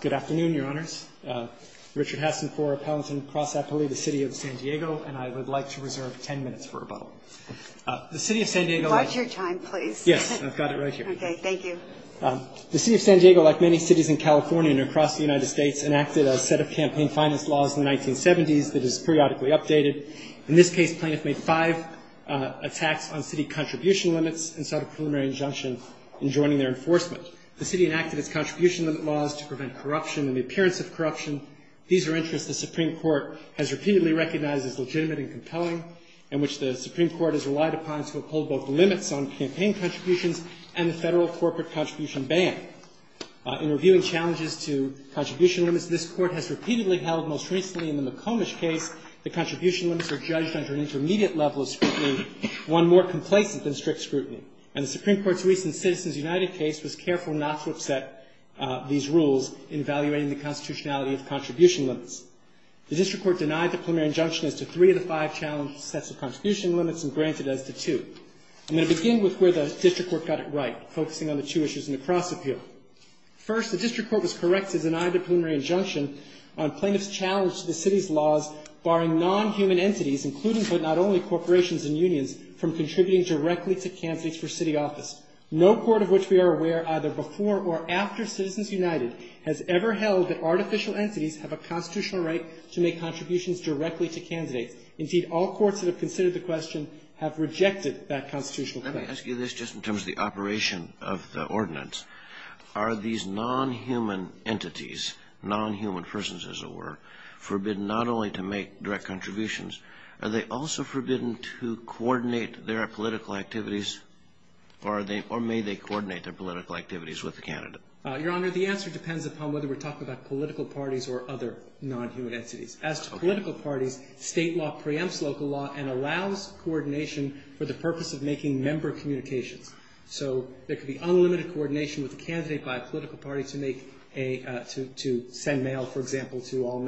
Good afternoon, Your Honors. Richard Hassenpore, Appellant in Cross Appellee, the City of San Diego, and I would like to reserve ten minutes for rebuttal. The City of San Diego... Watch your time, please. Yes, I've got it right here. Okay, thank you. The City of San Diego, like many cities in California and across the United States, enacted a set of campaign finance laws in the 1970s that is periodically updated. In this case, plaintiffs made five attacks on city contribution limits and sought a preliminary injunction in joining their enforcement. The City enacted its contribution limit laws to prevent corruption and the appearance of corruption. These are interests the Supreme Court has repeatedly recognized as legitimate and compelling, and which the Supreme Court has relied upon to uphold both the limits on campaign contributions and the federal corporate contribution ban. In reviewing challenges to contribution limits, this Court has repeatedly held, most recently in the McComish case, that contribution limits are judged under an intermediate level of scrutiny, one more complacent than strict scrutiny. And the Supreme Court's recent Citizens United case was careful not to upset these rules in evaluating the constitutionality of contribution limits. The District Court denied the preliminary injunction as to three of the five challenge sets of contribution limits and granted as to two. I'm going to begin with where the District Court got it right, focusing on the two issues in the cross appeal. First, the District Court was correct to deny the preliminary injunction on plaintiffs' challenge to the city's laws barring non-human entities, including but not only corporations and unions, from contributing directly to candidates for city office. No court of which we are aware, either before or after Citizens United, has ever held that artificial entities have a constitutional right to make contributions directly to candidates. Indeed, all courts that have considered the question have rejected that constitutional claim. Let me ask you this, just in terms of the operation of the ordinance. Are these non-human entities, non-human persons as it were, forbidden not only to make direct contributions, are they also forbidden to coordinate their political activities, or may they coordinate their political activities with the candidate? Your Honor, the answer depends upon whether we're talking about political parties or other non-human entities. As to political parties, state law preempts local law and allows coordination for the purpose of making member communications. So there could be unlimited coordination with a candidate by a political party to send mail, for example, to all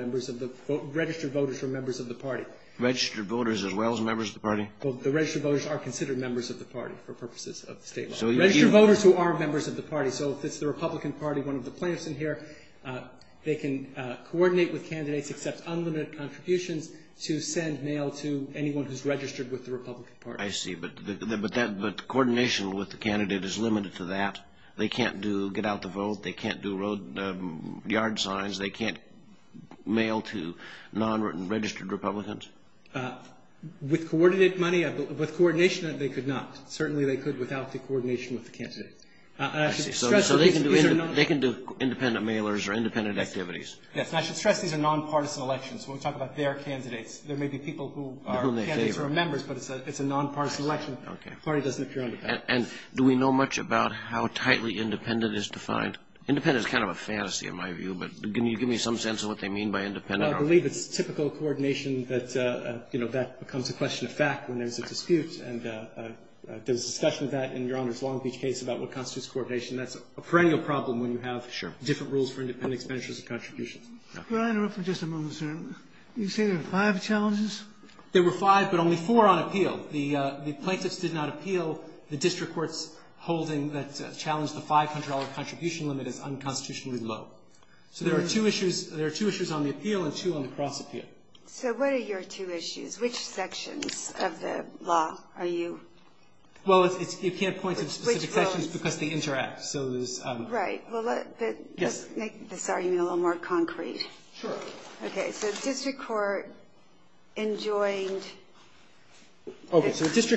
registered voters or members of the party. Registered voters as well as members of the party? The registered voters are considered members of the party for purposes of state law. Registered voters who are members of the party. So if it's the Republican Party, one of the plaintiffs in here, they can coordinate with candidates, accept unlimited contributions to send mail to anyone who's registered with the Republican Party. I see, but coordination with the candidate is limited to that. They can't get out the vote. They can't do yard signs. They can't mail to non-registered Republicans. With coordinated money, with coordination, they could not. Certainly they could without the coordination with the candidate. So they can do independent mailers or independent activities. Yes, and I should stress these are non-partisan elections. When we talk about their candidates, there may be people who are candidates or are members, but it's a non-partisan election. Okay. The party doesn't appear on the ballot. And do we know much about how tightly independent is defined? Independent is kind of a fantasy in my view, but can you give me some sense of what they mean by independent? Well, I believe it's typical coordination that, you know, that becomes a question of fact when there's a dispute. And there's discussion of that in Your Honor's Long Beach case about what constitutes coordination. That's a perennial problem when you have different rules for independent expenditures and contributions. Could I interrupt for just a moment, sir? You say there were five challenges? There were five, but only four on appeal. The plaintiffs did not appeal. The district court's holding that challenged the $500 contribution limit is unconstitutionally low. So there are two issues on the appeal and two on the cross appeal. So what are your two issues? Which sections of the law are you? Well, you can't point to specific sections because they interact. Right. Well, let's make this argument a little more concrete. Sure. Okay. So the district court enjoined the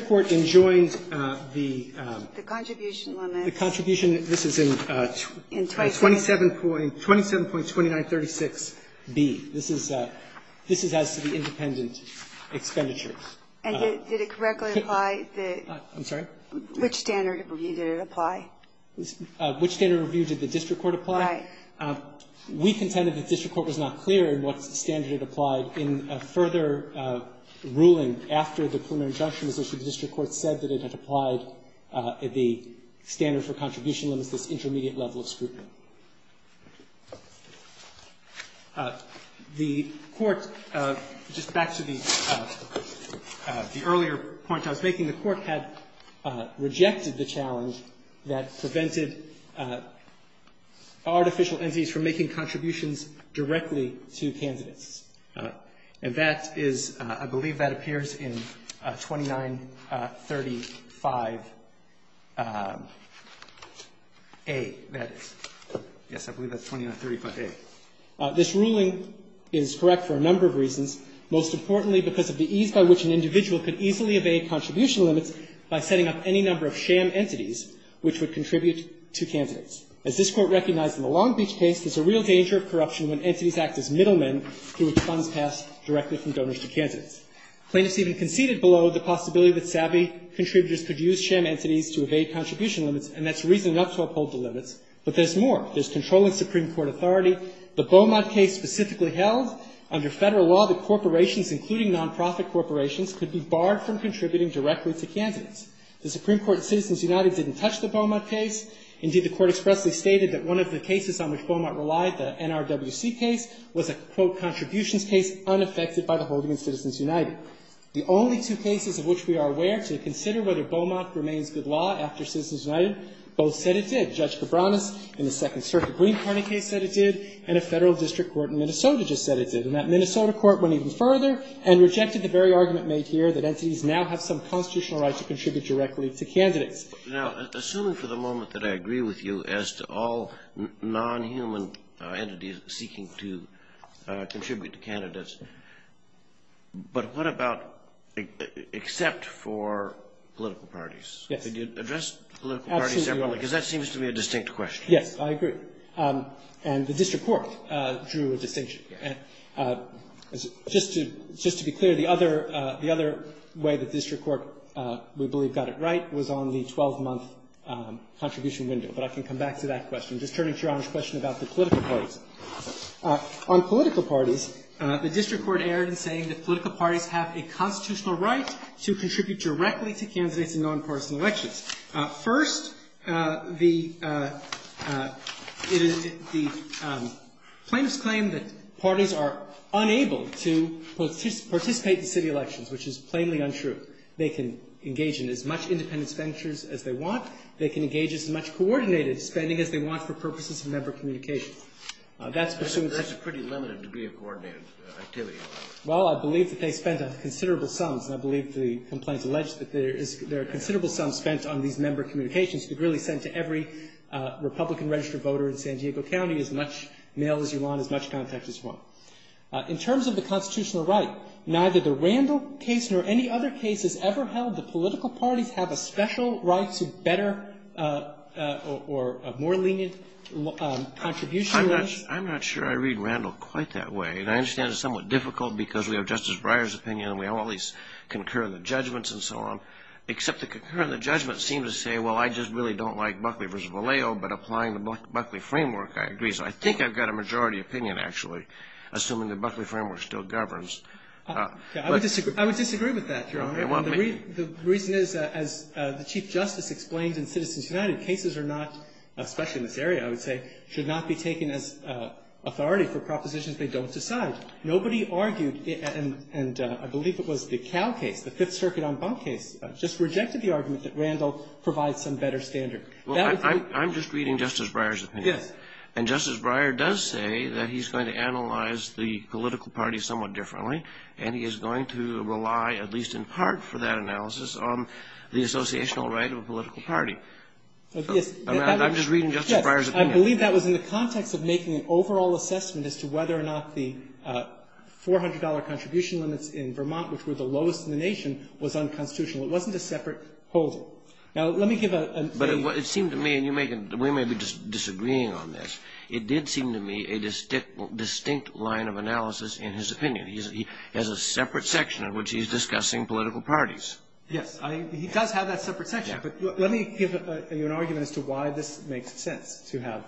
contribution limit. The contribution, this is in 27.2936B. This is as to the independent expenditures. And did it correctly apply? I'm sorry? Which standard of review did it apply? Which standard of review did the district court apply? Right. We contended that district court was not clear in what standard it applied. In a further ruling after the preliminary injunction was issued, the district court said that it had applied the standard for contribution limits, this intermediate level of scrutiny. The court, just back to the earlier point I was making, the court had rejected the challenge that prevented artificial entities from making contributions directly to candidates. And that is, I believe that appears in 29.35A, that is. Yes, I believe that's 29.35A. This ruling is correct for a number of reasons, most importantly because of the ease of application. The plaintiffs even conceded below the possibility that savvy contributors could use sham entities to evade contribution limits, and that's reason enough to uphold the limits. But there's more. There's controlling Supreme Court authority. The Beaumont case specifically held under Federal law that corporations, including non-profit corporations, could be barred from contributing directly to candidates. The Supreme Court in Citizens United didn't touch the Beaumont case. Indeed, the Court expressly stated that one of the cases on which Beaumont relied, the NRWC case, was a, quote, contributions case unaffected by the holding in Citizens United. The only two cases of which we are aware to consider whether Beaumont remains good law after Citizens United, both said it did. Judge Cabranes in the Second Circuit Green Party case said it did, and a Federal district court in Minnesota just said it did. And that Minnesota court went even further and rejected the very argument made here that entities now have some constitutional rights to contribute directly to candidates. Now, assuming for the moment that I agree with you as to all non-human entities seeking to contribute to candidates, but what about except for political parties? Yes. Do you address political parties separately? Absolutely. Because that seems to me a distinct question. Yes, I agree. And the district court drew a distinction. Just to be clear, the other way the district court we believe got it right was on the 12-month contribution window. But I can come back to that question. Just turning to Your Honor's question about the political parties, on political parties, the district court erred in saying that political parties have a constitutional right to contribute directly to candidates in nonpartisan elections. First, the plaintiffs claim that parties are unable to participate in city elections, which is plainly untrue. They can engage in as much independent expenditures as they want. They can engage in as much coordinated spending as they want for purposes of member That's pursuant to the statute. That's a pretty limited degree of coordinated activity. Well, I believe that they spent considerable sums, and I believe the complaint is alleged that there are considerable sums spent on these member communications that are really sent to every Republican registered voter in San Diego County, as much mail as you want, as much contact as you want. In terms of the constitutional right, neither the Randall case nor any other case has ever held that political parties have a special right to better or a more lenient contribution. I'm not sure I read Randall quite that way. And I understand it's somewhat difficult because we have Justice Breyer's opinion and we have all these concurrent judgments and so on, except the concurrent judgments seem to say, well, I just really don't like Buckley v. Vallejo, but applying the Buckley framework, I agree. So I think I've got a majority opinion, actually, assuming the Buckley framework still governs. I would disagree with that, Your Honor. The reason is, as the Chief Justice explains in Citizens United, cases are not, especially in this area, I would say, should not be taken as authority for propositions they don't decide. Nobody argued, and I believe it was the Cal case, the Fifth Circuit on Bunk case, just rejected the argument that Randall provides some better standard. That would be the case. Well, I'm just reading Justice Breyer's opinion. Yes. And Justice Breyer does say that he's going to analyze the political parties somewhat differently, and he is going to rely, at least in part for that analysis, on the associational Yes. I'm just reading Justice Breyer's opinion. I believe that was in the context of making an overall assessment as to whether or not the $400 contribution limits in Vermont, which were the lowest in the nation, was unconstitutional. It wasn't a separate holding. Now, let me give a But it seemed to me, and we may be just disagreeing on this, it did seem to me a distinct line of analysis in his opinion. He has a separate section in which he's discussing political parties. He does have that separate section. But let me give you an argument as to why this makes sense to have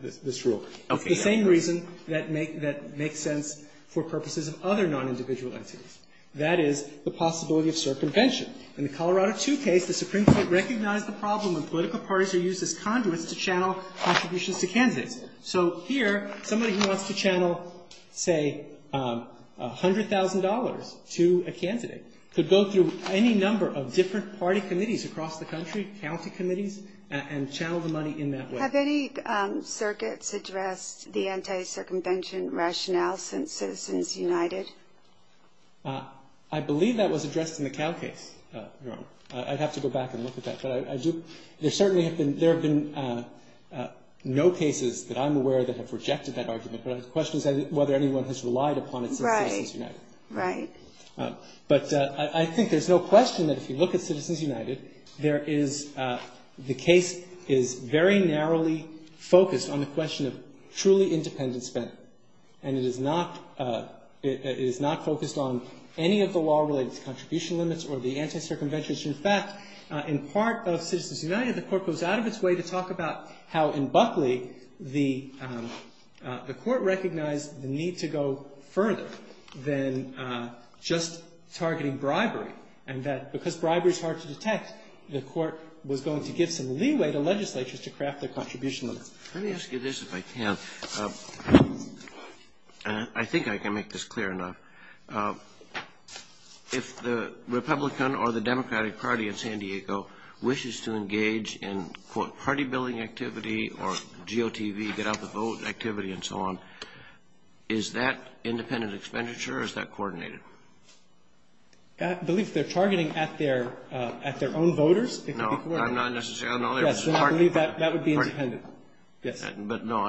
this rule. It's the same reason that makes sense for purposes of other nonindividual entities. That is the possibility of circumvention. In the Colorado II case, the Supreme Court recognized the problem when political parties are used as conduits to channel contributions to candidates. So here, somebody who wants to channel, say, $100,000 to a candidate could go through any number of different party committees across the country, county committees, and channel the money in that way. Have any circuits addressed the anti-circumvention rationale since Citizens United? I believe that was addressed in the Cal case, Your Honor. I'd have to go back and look at that. But there certainly have been no cases that I'm aware of that have rejected that argument. But the question is whether anyone has relied upon it since Citizens United. Right. Right. But I think there's no question that if you look at Citizens United, there is the case is very narrowly focused on the question of truly independent spend. And it is not focused on any of the law-related contribution limits or the anti-circumvention. In fact, in part of Citizens United, the Court goes out of its way to talk about how in Buckley the Court recognized the need to go further than just targeting bribery, and that because bribery is hard to detect, the Court was going to give some leeway to legislatures to craft their contribution limits. Let me ask you this, if I can. I think I can make this clear enough. If the Republican or the Democratic Party in San Diego wishes to engage in, quote, GOTV, get-out-the-vote activity and so on, is that independent expenditure or is that coordinated? I believe they're targeting at their own voters. No. I'm not necessarily. Yes, I believe that would be independent. Yes. But no,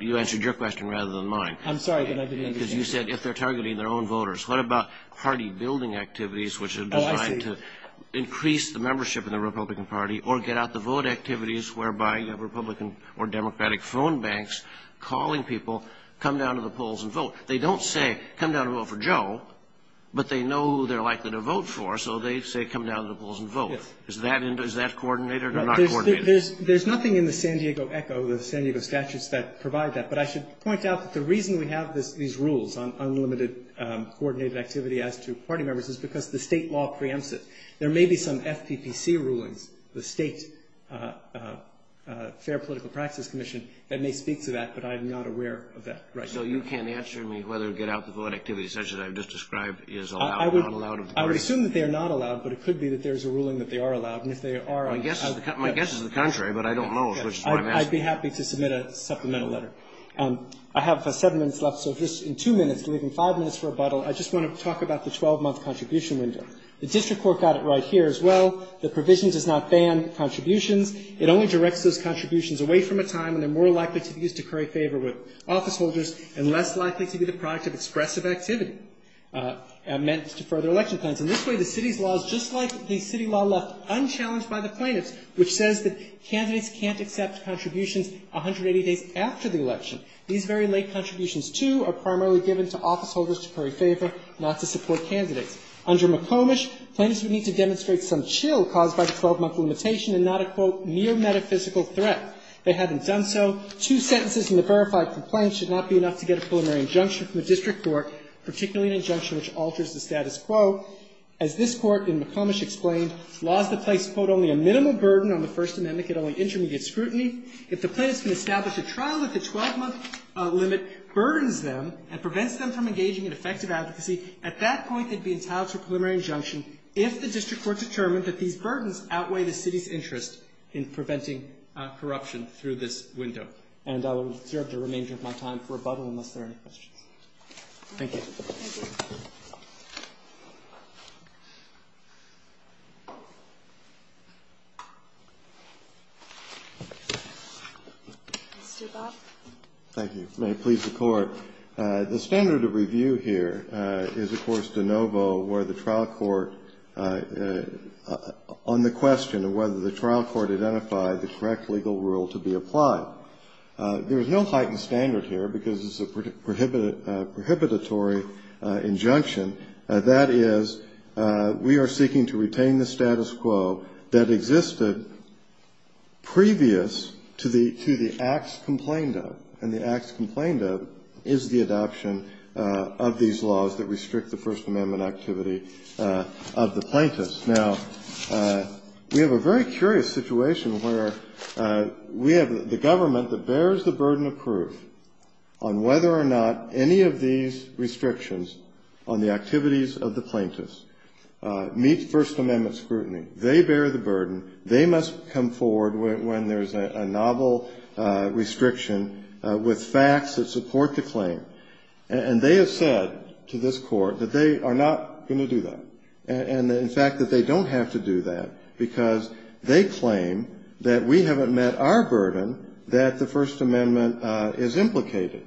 you answered your question rather than mine. I'm sorry, but I didn't understand. Because you said if they're targeting their own voters. What about party-building activities which are designed to increase the membership in the Republican Party or get-out-the-vote activities whereby you have Republican or Democratic phone banks calling people, come down to the polls and vote? They don't say, come down to vote for Joe, but they know who they're likely to vote for, so they say, come down to the polls and vote. Yes. Is that coordinated or not coordinated? There's nothing in the San Diego Echo, the San Diego statutes that provide that. But I should point out that the reason we have these rules on unlimited coordinated activity as to party members is because the state law preempts it. There may be some FPPC rulings, the State Fair Political Practice Commission, that may speak to that, but I am not aware of that right now. So you can't answer me whether get-out-the-vote activity such as I've just described is allowed or not allowed? I would assume that they are not allowed, but it could be that there is a ruling that they are allowed. And if they are, I would be happy to submit a supplemental letter. I have seven minutes left, so just in two minutes, leaving five minutes for a bottle, I just want to talk about the 12-month contribution window. The district court got it right here as well. The provision does not ban contributions. It only directs those contributions away from a time when they're more likely to be used to curry favor with office holders and less likely to be the product of expressive activity meant to further election plans. And this way, the city's law is just like the city law left unchallenged by the plaintiffs, which says that candidates can't accept contributions 180 days after the election. These very late contributions, too, are primarily given to office holders to curry favor, not to support candidates. Under McComish, plaintiffs would need to demonstrate some chill caused by the 12-month limitation and not a, quote, mere metaphysical threat. They haven't done so. Two sentences in the verified complaint should not be enough to get a preliminary injunction from the district court, particularly an injunction which alters the status quo. As this Court in McComish explained, laws that place, quote, only a minimal burden on the First Amendment get only intermediate scrutiny. If the plaintiffs can establish a trial that the 12-month limit burdens them and prevents them from engaging in effective advocacy, at that point they'd be entitled to a preliminary injunction if the district court determined that these burdens outweigh the city's interest in preventing corruption through this window. And I will reserve the remainder of my time for rebuttal unless there are any questions. Thank you. Thank you. Mr. Bob? Thank you. May it please the Court. The standard of review here is, of course, de novo, where the trial court, on the question of whether the trial court identified the correct legal rule to be applied. There is no heightened standard here because it's a prohibitory injunction. That is, we are seeking to retain the status quo that existed previous to the acts complained of, and the acts complained of is the adoption of these laws that restrict the First Amendment activity of the plaintiffs. Now, we have a very curious situation where we have the government that bears the burden of proof on whether or not any of these restrictions on the activities of the plaintiffs They bear the burden. They must come forward when there's a novel restriction with facts that support the claim. And they have said to this court that they are not going to do that. And, in fact, that they don't have to do that because they claim that we haven't met our burden, that the First Amendment is implicated.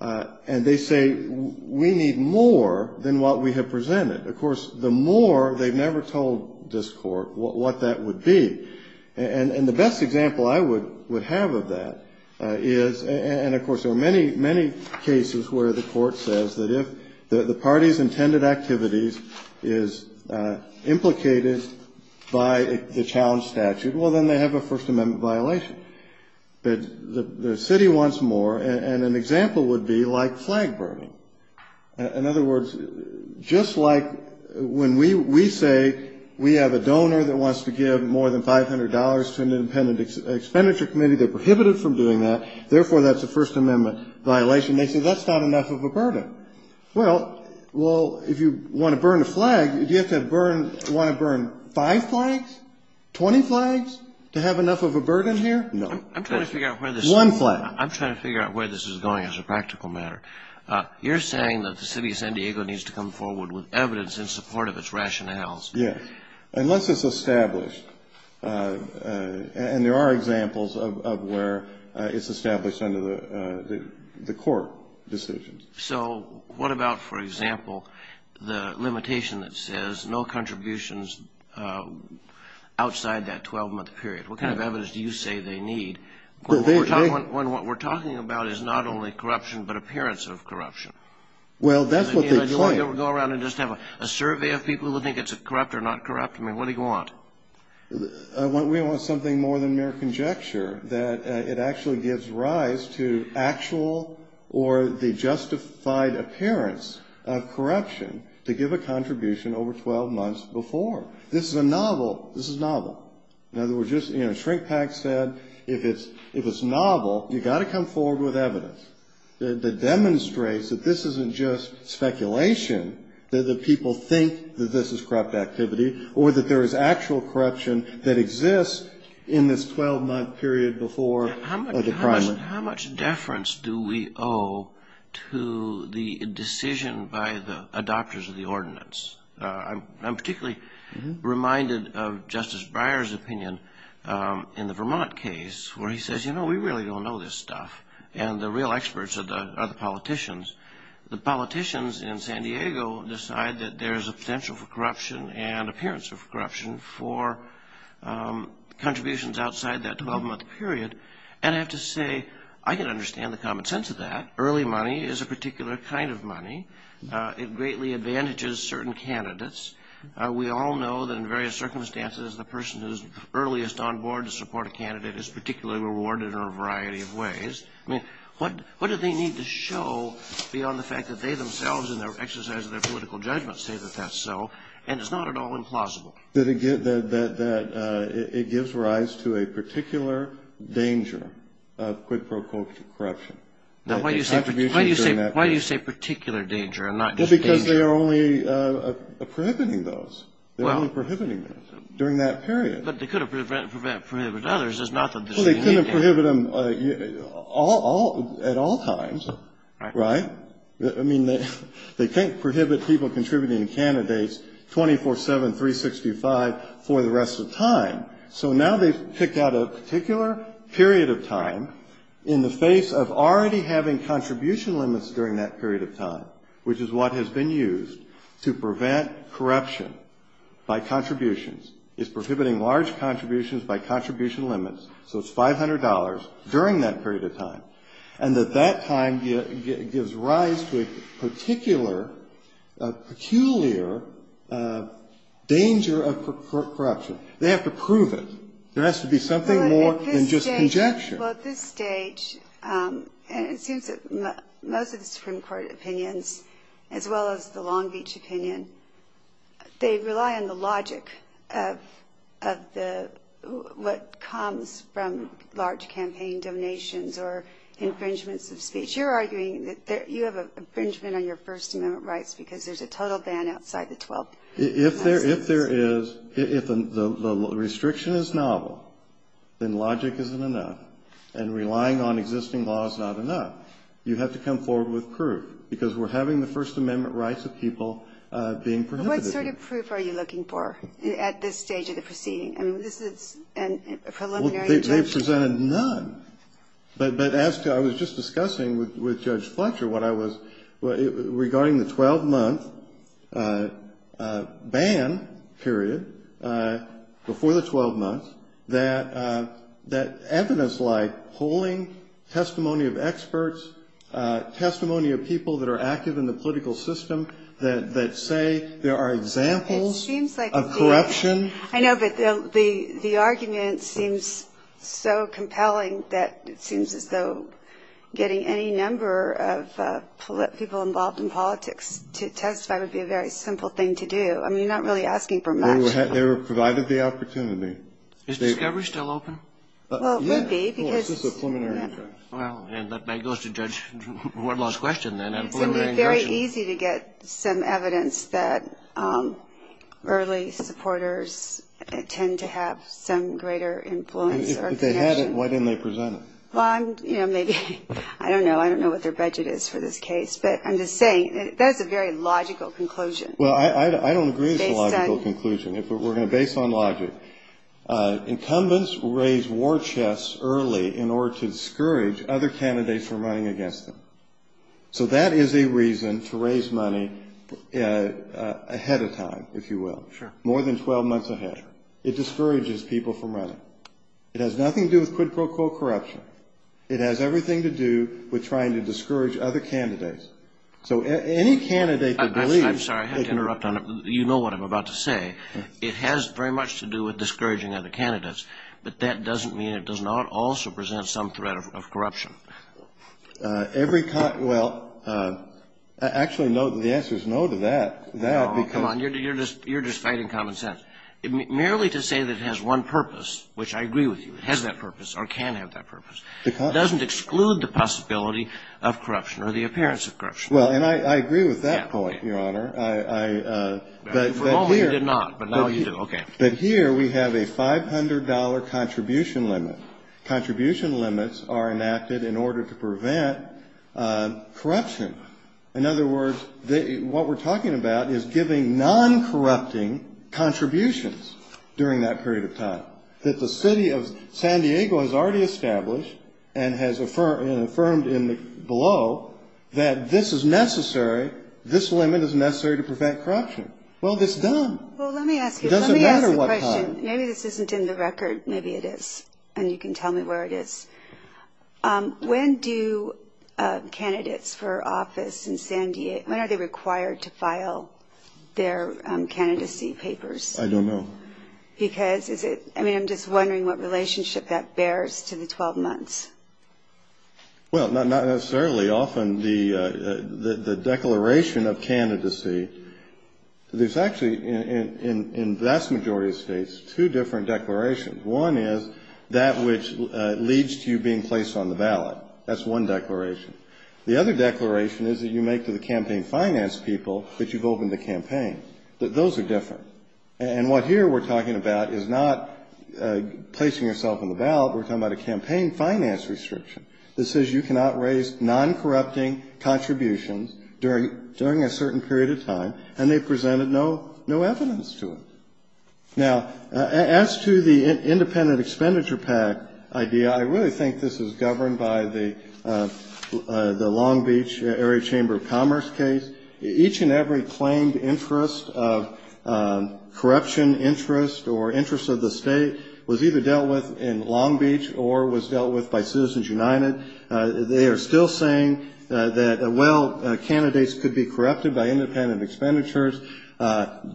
And they say we need more than what we have presented. Of course, the more, they've never told this court what that would be. And the best example I would have of that is, and, of course, there are many, many cases where the court says that if the party's intended activities is implicated by the challenge statute, well, then they have a First Amendment violation. But the city wants more, and an example would be like flag burning. In other words, just like when we say we have a donor that wants to give more than $500 to an independent expenditure committee, they're prohibited from doing that. Therefore, that's a First Amendment violation. They say that's not enough of a burden. Well, if you want to burn a flag, do you want to burn five flags, 20 flags to have enough of a burden here? No. One flag. I'm trying to figure out where this is going as a practical matter. You're saying that the city of San Diego needs to come forward with evidence in support of its rationales. Yes. Unless it's established, and there are examples of where it's established under the court decisions. So what about, for example, the limitation that says no contributions outside that 12-month period? What kind of evidence do you say they need? What we're talking about is not only corruption, but appearance of corruption. Well, that's what they claim. Do you want to go around and just have a survey of people who think it's corrupt or not corrupt? I mean, what do you want? We want something more than mere conjecture, that it actually gives rise to actual or the justified appearance of corruption to give a contribution over 12 months before. This is a novel. This is novel. In other words, just, you know, Shrink-Pak said if it's novel, you've got to come forward with evidence that demonstrates that this isn't just speculation, that the people think that this is corrupt activity or that there is actual corruption that exists in this 12-month period before the crime. How much deference do we owe to the decision by the adopters of the ordinance? I'm particularly reminded of Justice Breyer's opinion in the Vermont case where he says, you know, we really don't know this stuff, and the real experts are the politicians. The politicians in San Diego decide that there is a potential for corruption and appearance of corruption for contributions outside that 12-month period, and I have to say, I can understand the common sense of that. Early money is a particular kind of money. It greatly advantages certain candidates. We all know that in various circumstances, the person who's earliest on board to support a candidate is particularly rewarded in a variety of ways. I mean, what do they need to show beyond the fact that they themselves in their exercise of their political judgment say that that's so, and it's not at all implausible? That it gives rise to a particular danger of quid pro quo corruption. Now, why do you say particular danger and not just danger? Well, because they are only prohibiting those. They're only prohibiting them during that period. But they could have prohibited others. It's not that this is unique. Well, they couldn't prohibit them at all times, right? I mean, they can't prohibit people contributing to candidates 24-7, 365 for the rest of time. So now they've picked out a particular period of time in the face of already having contribution limits during that period of time, which is what has been used to prevent corruption by contributions. It's prohibiting large contributions by contribution limits, so it's $500 during that period of time. And that that time gives rise to a particular, peculiar danger of corruption. They have to prove it. There has to be something more than just conjecture. Well, at this stage, and it seems that most of the Supreme Court opinions, as well as the Long Beach opinion, they rely on the logic of what comes from large campaign donations or infringements of speech. You're arguing that you have infringement on your First Amendment rights because there's a total ban outside the 12th. If there is, if the restriction is novel, then logic isn't enough. And relying on existing law is not enough. You have to come forward with proof, because we're having the First Amendment rights of people being prohibited. What sort of proof are you looking for at this stage of the proceeding? I mean, this is a preliminary objection. Well, they presented none. But as to, I was just discussing with Judge Fletcher what I was, regarding the 12-month ban period, before the 12 months, that evidence like polling, testimony of experts, testimony of people that are active in the political system, that say there are examples of corruption. I know, but the argument seems so compelling that it seems as though getting any number of people involved in politics to testify would be a very simple thing to do. I mean, you're not really asking for much. They were provided the opportunity. Is Discovery still open? Well, it would be, because. Well, it's just a preliminary objection. Well, and that goes to Judge Wardlaw's question, then. It would be very easy to get some evidence that early supporters tend to have some greater influence or connection. If they had it, why didn't they present it? Well, I'm, you know, maybe, I don't know. I don't know what their budget is for this case. But I'm just saying, that's a very logical conclusion. Well, I don't agree with the logical conclusion. Based on. We're going to base it on logic. Incumbents raise war chests early in order to discourage other candidates from running against them. So that is a reason to raise money ahead of time, if you will. Sure. More than 12 months ahead. Sure. It discourages people from running. It has nothing to do with quid pro quo corruption. It has everything to do with trying to discourage other candidates. So any candidate that believes. I'm sorry. I have to interrupt on it. You know what I'm about to say. It has very much to do with discouraging other candidates. But that doesn't mean it does not also present some threat of corruption. Every. Well, actually, the answer is no to that. Come on. You're just fighting common sense. Merely to say that it has one purpose, which I agree with you. It has that purpose or can have that purpose. It doesn't exclude the possibility of corruption or the appearance of corruption. Well, and I agree with that point, Your Honor. For a moment, you did not. But now you do. Okay. But here we have a $500 contribution limit. Contribution limits are enacted in order to prevent corruption. In other words, what we're talking about is giving non-corrupting contributions during that period of time. That the city of San Diego has already established and has affirmed below that this is necessary. This limit is necessary to prevent corruption. Well, it's done. Well, let me ask you. It doesn't matter what time. Maybe this isn't in the record. Maybe it is. And you can tell me where it is. When do candidates for office in San Diego, when are they required to file their candidacy papers? I don't know. Because is it, I mean, I'm just wondering what relationship that bears to the 12 months. Well, not necessarily. Often the declaration of candidacy, there's actually in vast majority of states two different declarations. One is that which leads to you being placed on the ballot. That's one declaration. The other declaration is that you make to the campaign finance people that you've opened the campaign. Those are different. And what here we're talking about is not placing yourself on the ballot. We're talking about a campaign finance restriction that says you cannot raise non-corrupting contributions during a certain period of time. And they've presented no evidence to it. Now, as to the independent expenditure pact idea, I really think this is governed by the Long Beach Area Chamber of Commerce case. Each and every claimed interest of corruption interest or interest of the state was either dealt with in Long Beach or was dealt with by Citizens United. They are still saying that, well, candidates could be corrupted by independent expenditures,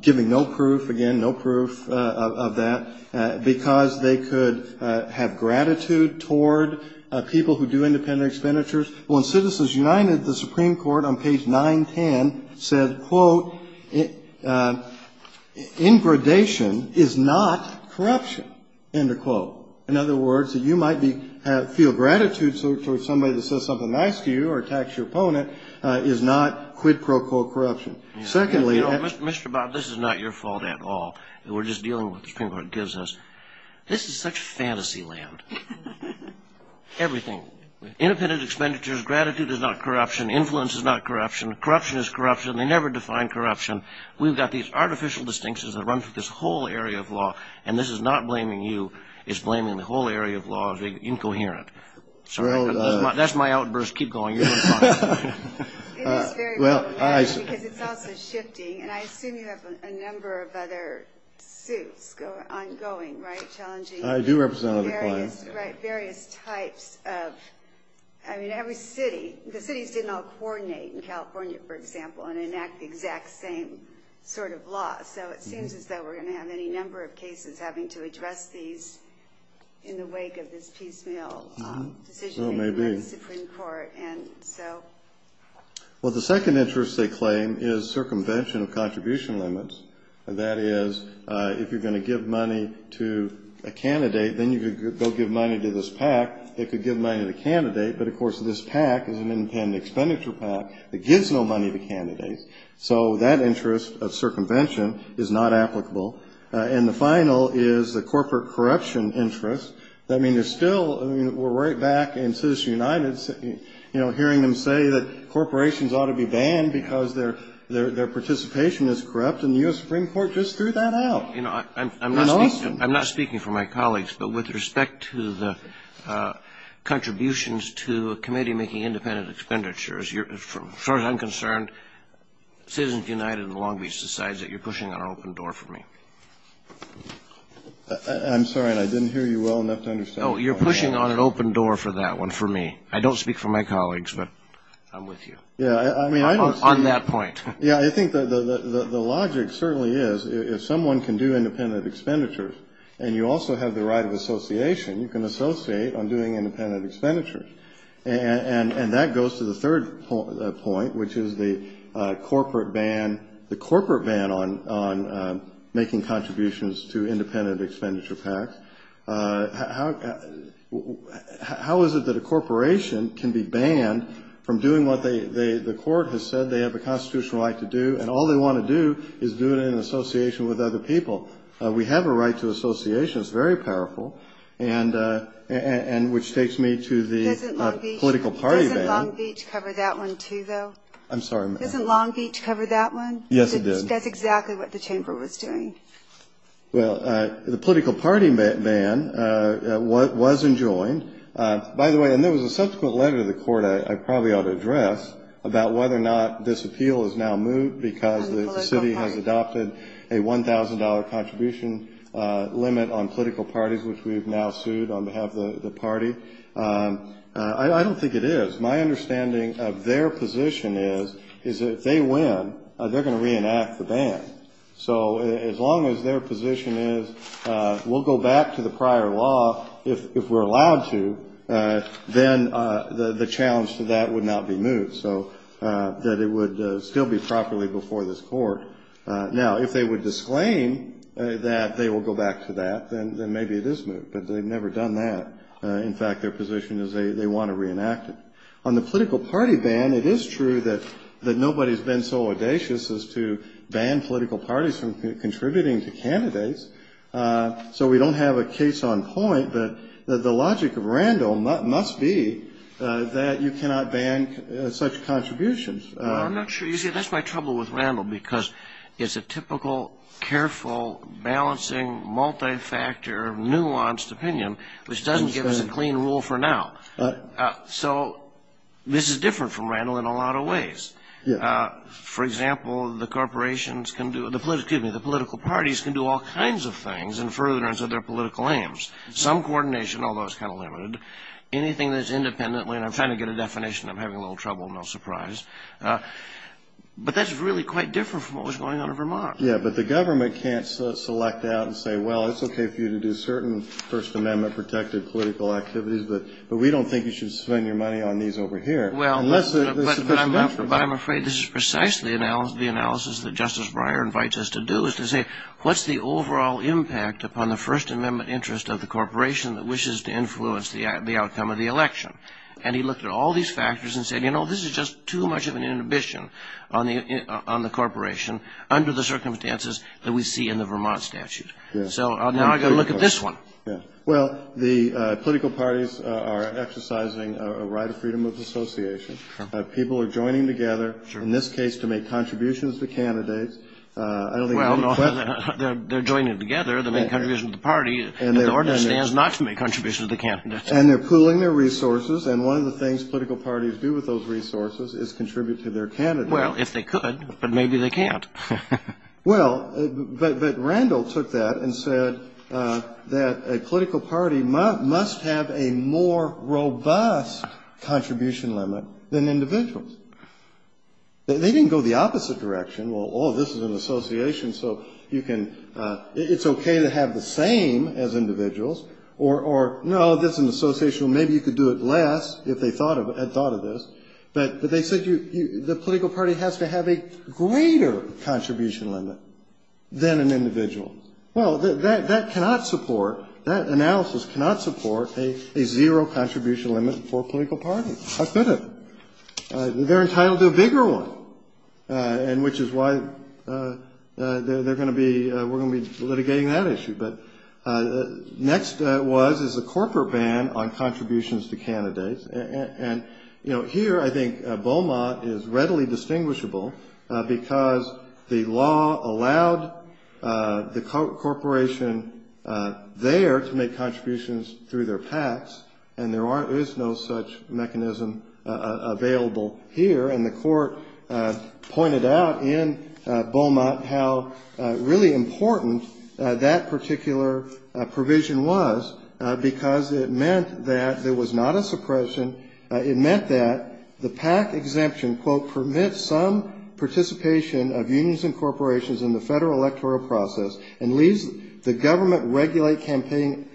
giving no proof, again, no proof of that, because they could have gratitude toward people who do independent expenditures. Well, in Citizens United, the Supreme Court on page 910 said, quote, ingradation is not corruption, end of quote. In other words, that you might feel gratitude toward somebody that says something nice to you or attacks your opponent is not, quid pro quo, corruption. Secondly, Mr. Bob, this is not your fault at all. We're just dealing with what the Supreme Court gives us. This is such fantasy land. Everything, independent expenditures, gratitude is not corruption, influence is not corruption, corruption is corruption. They never define corruption. We've got these artificial distinctions that run through this whole area of law. And this is not blaming you. It's blaming the whole area of law as being incoherent. So that's my outburst. Keep going. You're going to talk. It is very problematic because it's also shifting. And I assume you have a number of other suits ongoing, right, challenging various types of, I mean, every city. The cities didn't all coordinate in California, for example, and enact the exact same sort of law. So it seems as though we're going to have any number of cases having to address these in the wake of this piecemeal decision. So it may be. And so. Well, the second interest they claim is circumvention of contribution limits. That is, if you're going to give money to a candidate, then you could go give money to this PAC. It could give money to the candidate. But, of course, this PAC is an independent expenditure PAC that gives no money to candidates. So that interest of circumvention is not applicable. And the final is the corporate corruption interest. I mean, there's still we're right back in Citizens United, you know, hearing them say that corporations ought to be banned because their participation is corrupt. And the U.S. Supreme Court just threw that out in Austin. I'm not speaking for my colleagues, but with respect to the contributions to a committee making independent expenditures, as far as I'm concerned, Citizens United and Long Beach decides that you're pushing on an open door for me. I'm sorry. I didn't hear you well enough to understand. Oh, you're pushing on an open door for that one for me. I don't speak for my colleagues, but I'm with you. Yeah, I mean, I don't. On that point. Yeah, I think the logic certainly is if someone can do independent expenditures and you also have the right of association, you can associate on doing independent expenditures. And that goes to the third point, which is the corporate ban on making contributions to independent expenditure PACs. How is it that a corporation can be banned from doing what the court has said they have a constitutional right to do, and all they want to do is do it in association with other people? We have a right to association. It's very powerful. And which takes me to the political party ban. Doesn't Long Beach cover that one, too, though? I'm sorry. Doesn't Long Beach cover that one? Yes, it does. That's exactly what the chamber was doing. Well, the political party ban was enjoined. By the way, and there was a subsequent letter to the court I probably ought to address about whether or not this appeal is now moved because the city has adopted a $1,000 contribution limit on political parties, which we have now sued on behalf of the party. I don't think it is. My understanding of their position is that if they win, they're going to reenact the ban. So as long as their position is we'll go back to the prior law if we're allowed to, then the challenge to that would not be moved, so that it would still be properly before this court. Now, if they would disclaim that they will go back to that, then maybe it is moved, but they've never done that. In fact, their position is they want to reenact it. On the political party ban, it is true that nobody has been so audacious as to ban political parties from contributing to candidates. So we don't have a case on point, but the logic of Randall must be that you cannot ban such contributions. Well, I'm not sure. You see, that's my trouble with Randall because it's a typical, careful, balancing, multi-factor, nuanced opinion, which doesn't give us a clean rule for now. So this is different from Randall in a lot of ways. For example, the political parties can do all kinds of things in furtherance of their political aims. Some coordination, although it's kind of limited. Anything that's independently, and I'm trying to get a definition. I'm having a little trouble, no surprise. But that's really quite different from what was going on in Vermont. Yeah, but the government can't select out and say, well, it's okay for you to do certain First Amendment-protected political activities, but we don't think you should spend your money on these over here. Well, but I'm afraid this is precisely the analysis that Justice Breyer invites us to do, is to say, what's the overall impact upon the First Amendment interest of the corporation that wishes to influence the outcome of the election? And he looked at all these factors and said, you know, this is just too much of an inhibition on the corporation under the circumstances that we see in the Vermont statute. So now I've got to look at this one. Yeah. Well, the political parties are exercising a right of freedom of association. People are joining together, in this case to make contributions to candidates. Well, they're joining together. They're making contributions to the party. The order stands not to make contributions to the candidates. And they're pooling their resources. And one of the things political parties do with those resources is contribute to their candidates. Well, if they could, but maybe they can't. Well, but Randall took that and said that a political party must have a more robust contribution limit than individuals. They didn't go the opposite direction. Well, oh, this is an association, so you can ‑‑ it's okay to have the same as individuals. Or, no, this is an association, well, maybe you could do it less if they thought of this. But they said the political party has to have a greater contribution limit than an individual. Well, that cannot support, that analysis cannot support a zero contribution limit for a political party. How could it? They're entitled to a bigger one, and which is why they're going to be, we're going to be litigating that issue. But next was, is a corporate ban on contributions to candidates. And, you know, here I think Beaumont is readily distinguishable because the law allowed the corporation there to make contributions through their PACs, and there is no such mechanism available here. And the court pointed out in Beaumont how really important that particular provision was because it meant that there was not a suppression. It meant that the PAC exemption, quote, permits some participation of unions and corporations in the federal electoral process and leaves the government regulate campaign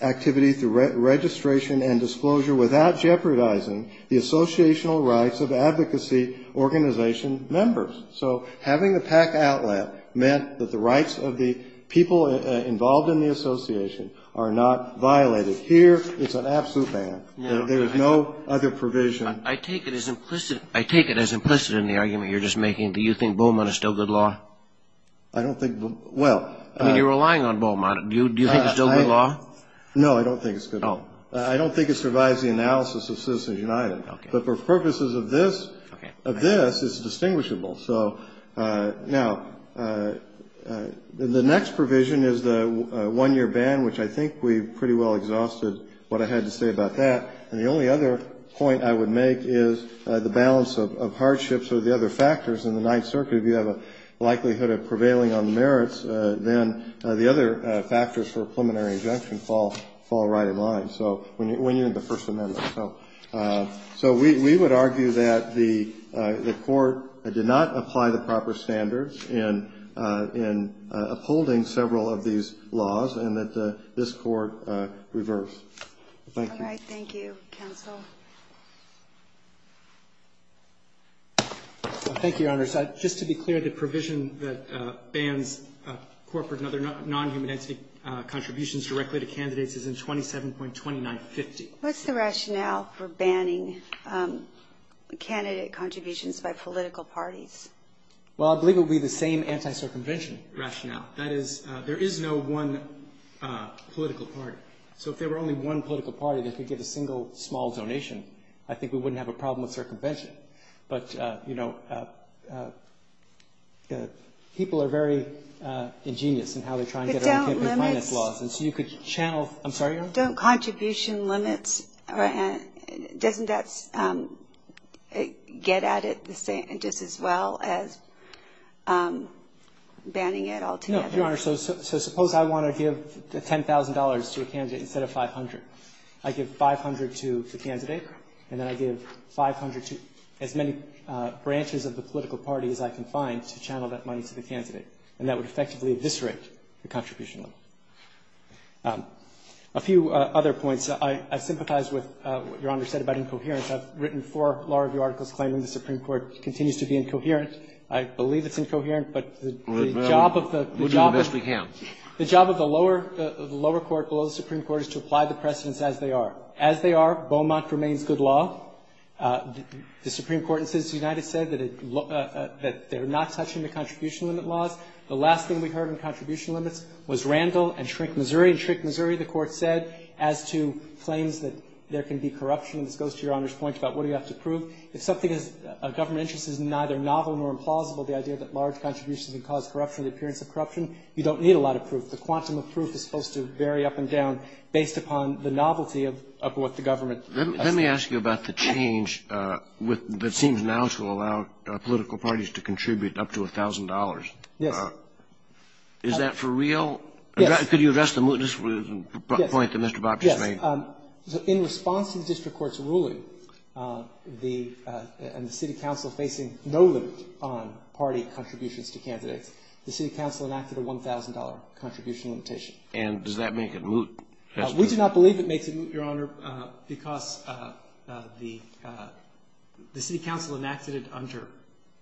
activity through registration and disclosure without jeopardizing the associational rights of advocacy organization members. So having the PAC outlet meant that the rights of the people involved in the association are not violated. Here it's an absolute ban. There is no other provision. I take it as implicit in the argument you're just making that you think Beaumont is still good law. I don't think, well. I mean, you're relying on Beaumont. Do you think it's still good law? No, I don't think it's good law. I don't think it survives the analysis of Citizens United. But for purposes of this, it's distinguishable. So now the next provision is the one-year ban, which I think we pretty well exhausted what I had to say about that. And the only other point I would make is the balance of hardships or the other factors in the Ninth Circuit. If you have a likelihood of prevailing on the merits, then the other factors for a preliminary injunction fall right in line, when you're in the First Amendment. So we would argue that the Court did not apply the proper standards in upholding several of these laws and that this Court reversed. Thank you. All right. Thank you. Counsel. Thank you, Your Honors. Just to be clear, the provision that bans corporate and other non-human entity contributions directly to candidates is in 27.2950. What's the rationale for banning candidate contributions by political parties? Well, I believe it would be the same anti-circumvention rationale. That is, there is no one political party. So if there were only one political party that could give a single, small donation, I think we wouldn't have a problem with circumvention. But, you know, people are very ingenious in how they try and get around campaign finance laws. And so you could channel I'm sorry, Your Honor. Don't contribution limits, doesn't that get at it just as well as banning it altogether? No, Your Honor. So suppose I want to give $10,000 to a candidate instead of $500. I give $500 to the candidate, and then I give $500 to as many branches of the political party as I can find to channel that money to the candidate. And that would effectively eviscerate the contribution limit. A few other points. I sympathize with what Your Honor said about incoherence. I've written four law review articles claiming the Supreme Court continues to be incoherent. I believe it's incoherent, but the job of the job of the lower court below the Supreme Court is to apply the precedents as they are. As they are, Beaumont remains good law. The Supreme Court in Citizens United said that they're not touching the contribution limit laws. The last thing we heard on contribution limits was Randall and Shrink, Missouri. In Shrink, Missouri, the Court said as to claims that there can be corruption, and this goes to Your Honor's point about what do you have to prove. If something is of government interest is neither novel nor implausible, the idea that large contributions can cause corruption or the appearance of corruption, you don't need a lot of proof. The quantum of proof is supposed to vary up and down based upon the novelty of what the government does. Let me ask you about the change that seems now to allow political parties to contribute up to $1,000. Yes. Is that for real? Yes. Could you address the mootness point that Mr. Bob just made? Yes. In response to the district court's ruling, the city council facing no limit on party contributions to candidates, the city council enacted a $1,000 contribution limitation. And does that make it moot? We do not believe it makes it moot, Your Honor, because the city council enacted it under duress.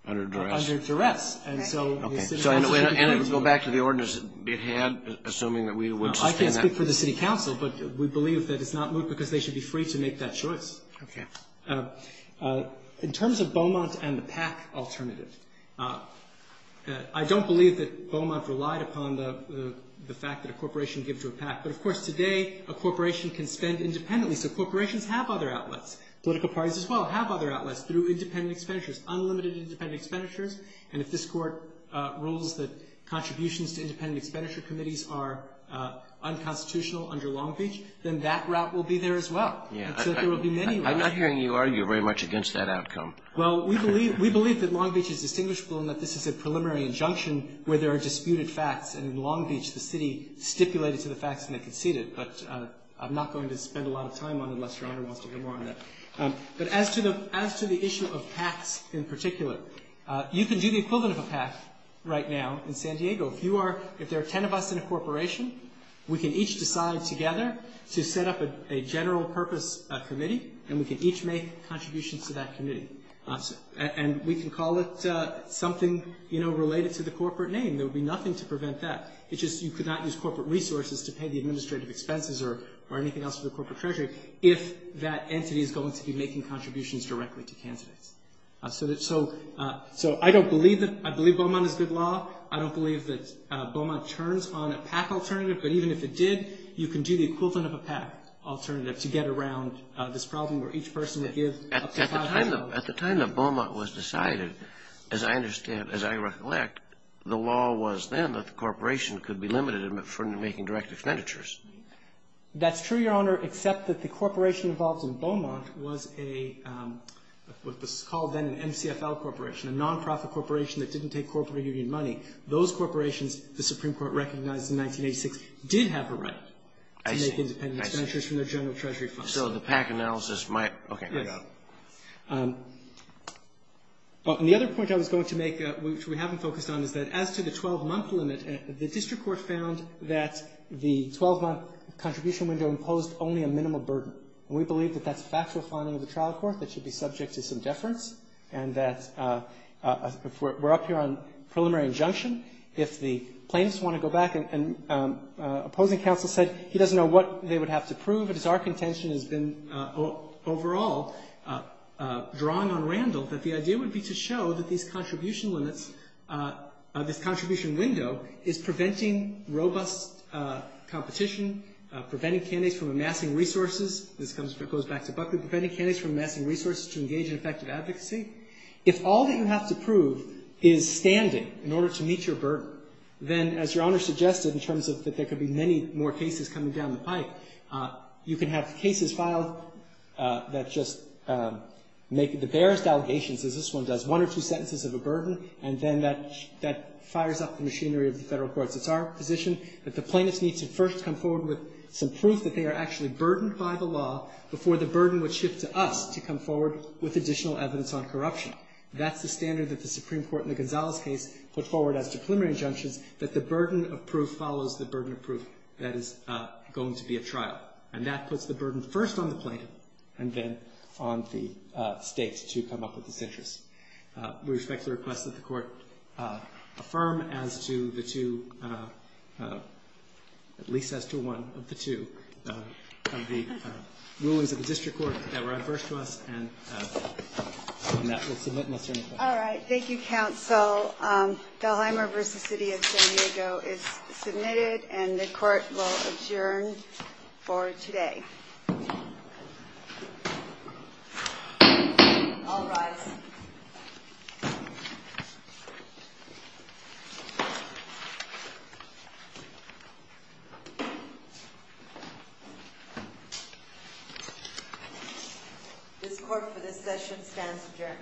Under duress. Under duress. Okay. And it would go back to the ordinance it had, assuming that we would sustain that. I can't speak for the city council, but we believe that it's not moot because they should be free to make that choice. Okay. In terms of Beaumont and the PAC alternative, I don't believe that Beaumont relied upon the fact that a corporation gives to a PAC. But, of course, today a corporation can spend independently, so corporations have other outlets. Political parties as well have other outlets through independent expenditures, unlimited independent expenditures. And if this Court rules that contributions to independent expenditure committees are unconstitutional under Long Beach, then that route will be there as well. Yes. And so there will be many routes. I'm not hearing you argue very much against that outcome. Well, we believe that Long Beach is distinguishable in that this is a preliminary injunction where there are disputed facts, and in Long Beach the city stipulated to the facts and they conceded. But I'm not going to spend a lot of time on it unless Your Honor wants to hear more on that. But as to the issue of PACs in particular, you can do the equivalent of a PAC right now in San Diego. If there are ten of us in a corporation, we can each decide together to set up a general purpose committee, and we can each make contributions to that committee. And we can call it something, you know, related to the corporate name. There would be nothing to prevent that. It's just you could not use corporate resources to pay the administrative expenses or anything else for the corporate treasury if that entity is going to be making contributions directly to candidates. So I don't believe that, I believe Beaumont is good law. I don't believe that Beaumont turns on a PAC alternative, but even if it did, you can do the equivalent of a PAC alternative to get around this problem where each person would give up to $500. At the time that Beaumont was decided, as I understand, as I recollect, the law was then that the corporation could be limited for making direct expenditures. That's true, Your Honor, except that the corporation involved in Beaumont was a, what was called then an MCFL corporation, a non-profit corporation that didn't take corporate union money. Those corporations, the Supreme Court recognized in 1986, did have a right to make independent expenditures from their general treasury funds. I see. I see. Okay. I got it. And the other point I was going to make, which we haven't focused on, is that as to the 12-month limit, the district court found that the 12-month contribution window imposed only a minimal burden. And we believe that that's factual finding of the trial court that should be subject to some deference and that if we're up here on preliminary injunction, if the plaintiffs want to go back and opposing counsel said he doesn't know what they would have to prove, but as our contention has been overall drawn on Randall, that the idea would be to show that these contribution limits, this contribution window is preventing robust competition, preventing candidates from amassing resources. This comes, goes back to Buckley. Preventing candidates from amassing resources to engage in effective advocacy. If all that you have to prove is standing in order to meet your burden, then as Your You can have cases filed that just make the barest allegations, as this one does, one or two sentences of a burden, and then that fires up the machinery of the federal courts. It's our position that the plaintiffs need to first come forward with some proof that they are actually burdened by the law before the burden would shift to us to come forward with additional evidence on corruption. That's the standard that the Supreme Court in the Gonzalez case put forward as to preliminary injunctions, that the burden of proof follows the burden of proof. That is going to be a trial. And that puts the burden first on the plaintiff and then on the state to come up with this interest. We respectfully request that the court affirm as to the two, at least as to one of the two, of the rulings of the district court that were adverse to us. And on that, we'll submit and I'll turn it over. All right. Thank you, counsel. So the Heimer v. City of San Diego is submitted and the court will adjourn for today. I'll rise. This court for this session stands adjourned. Thank you.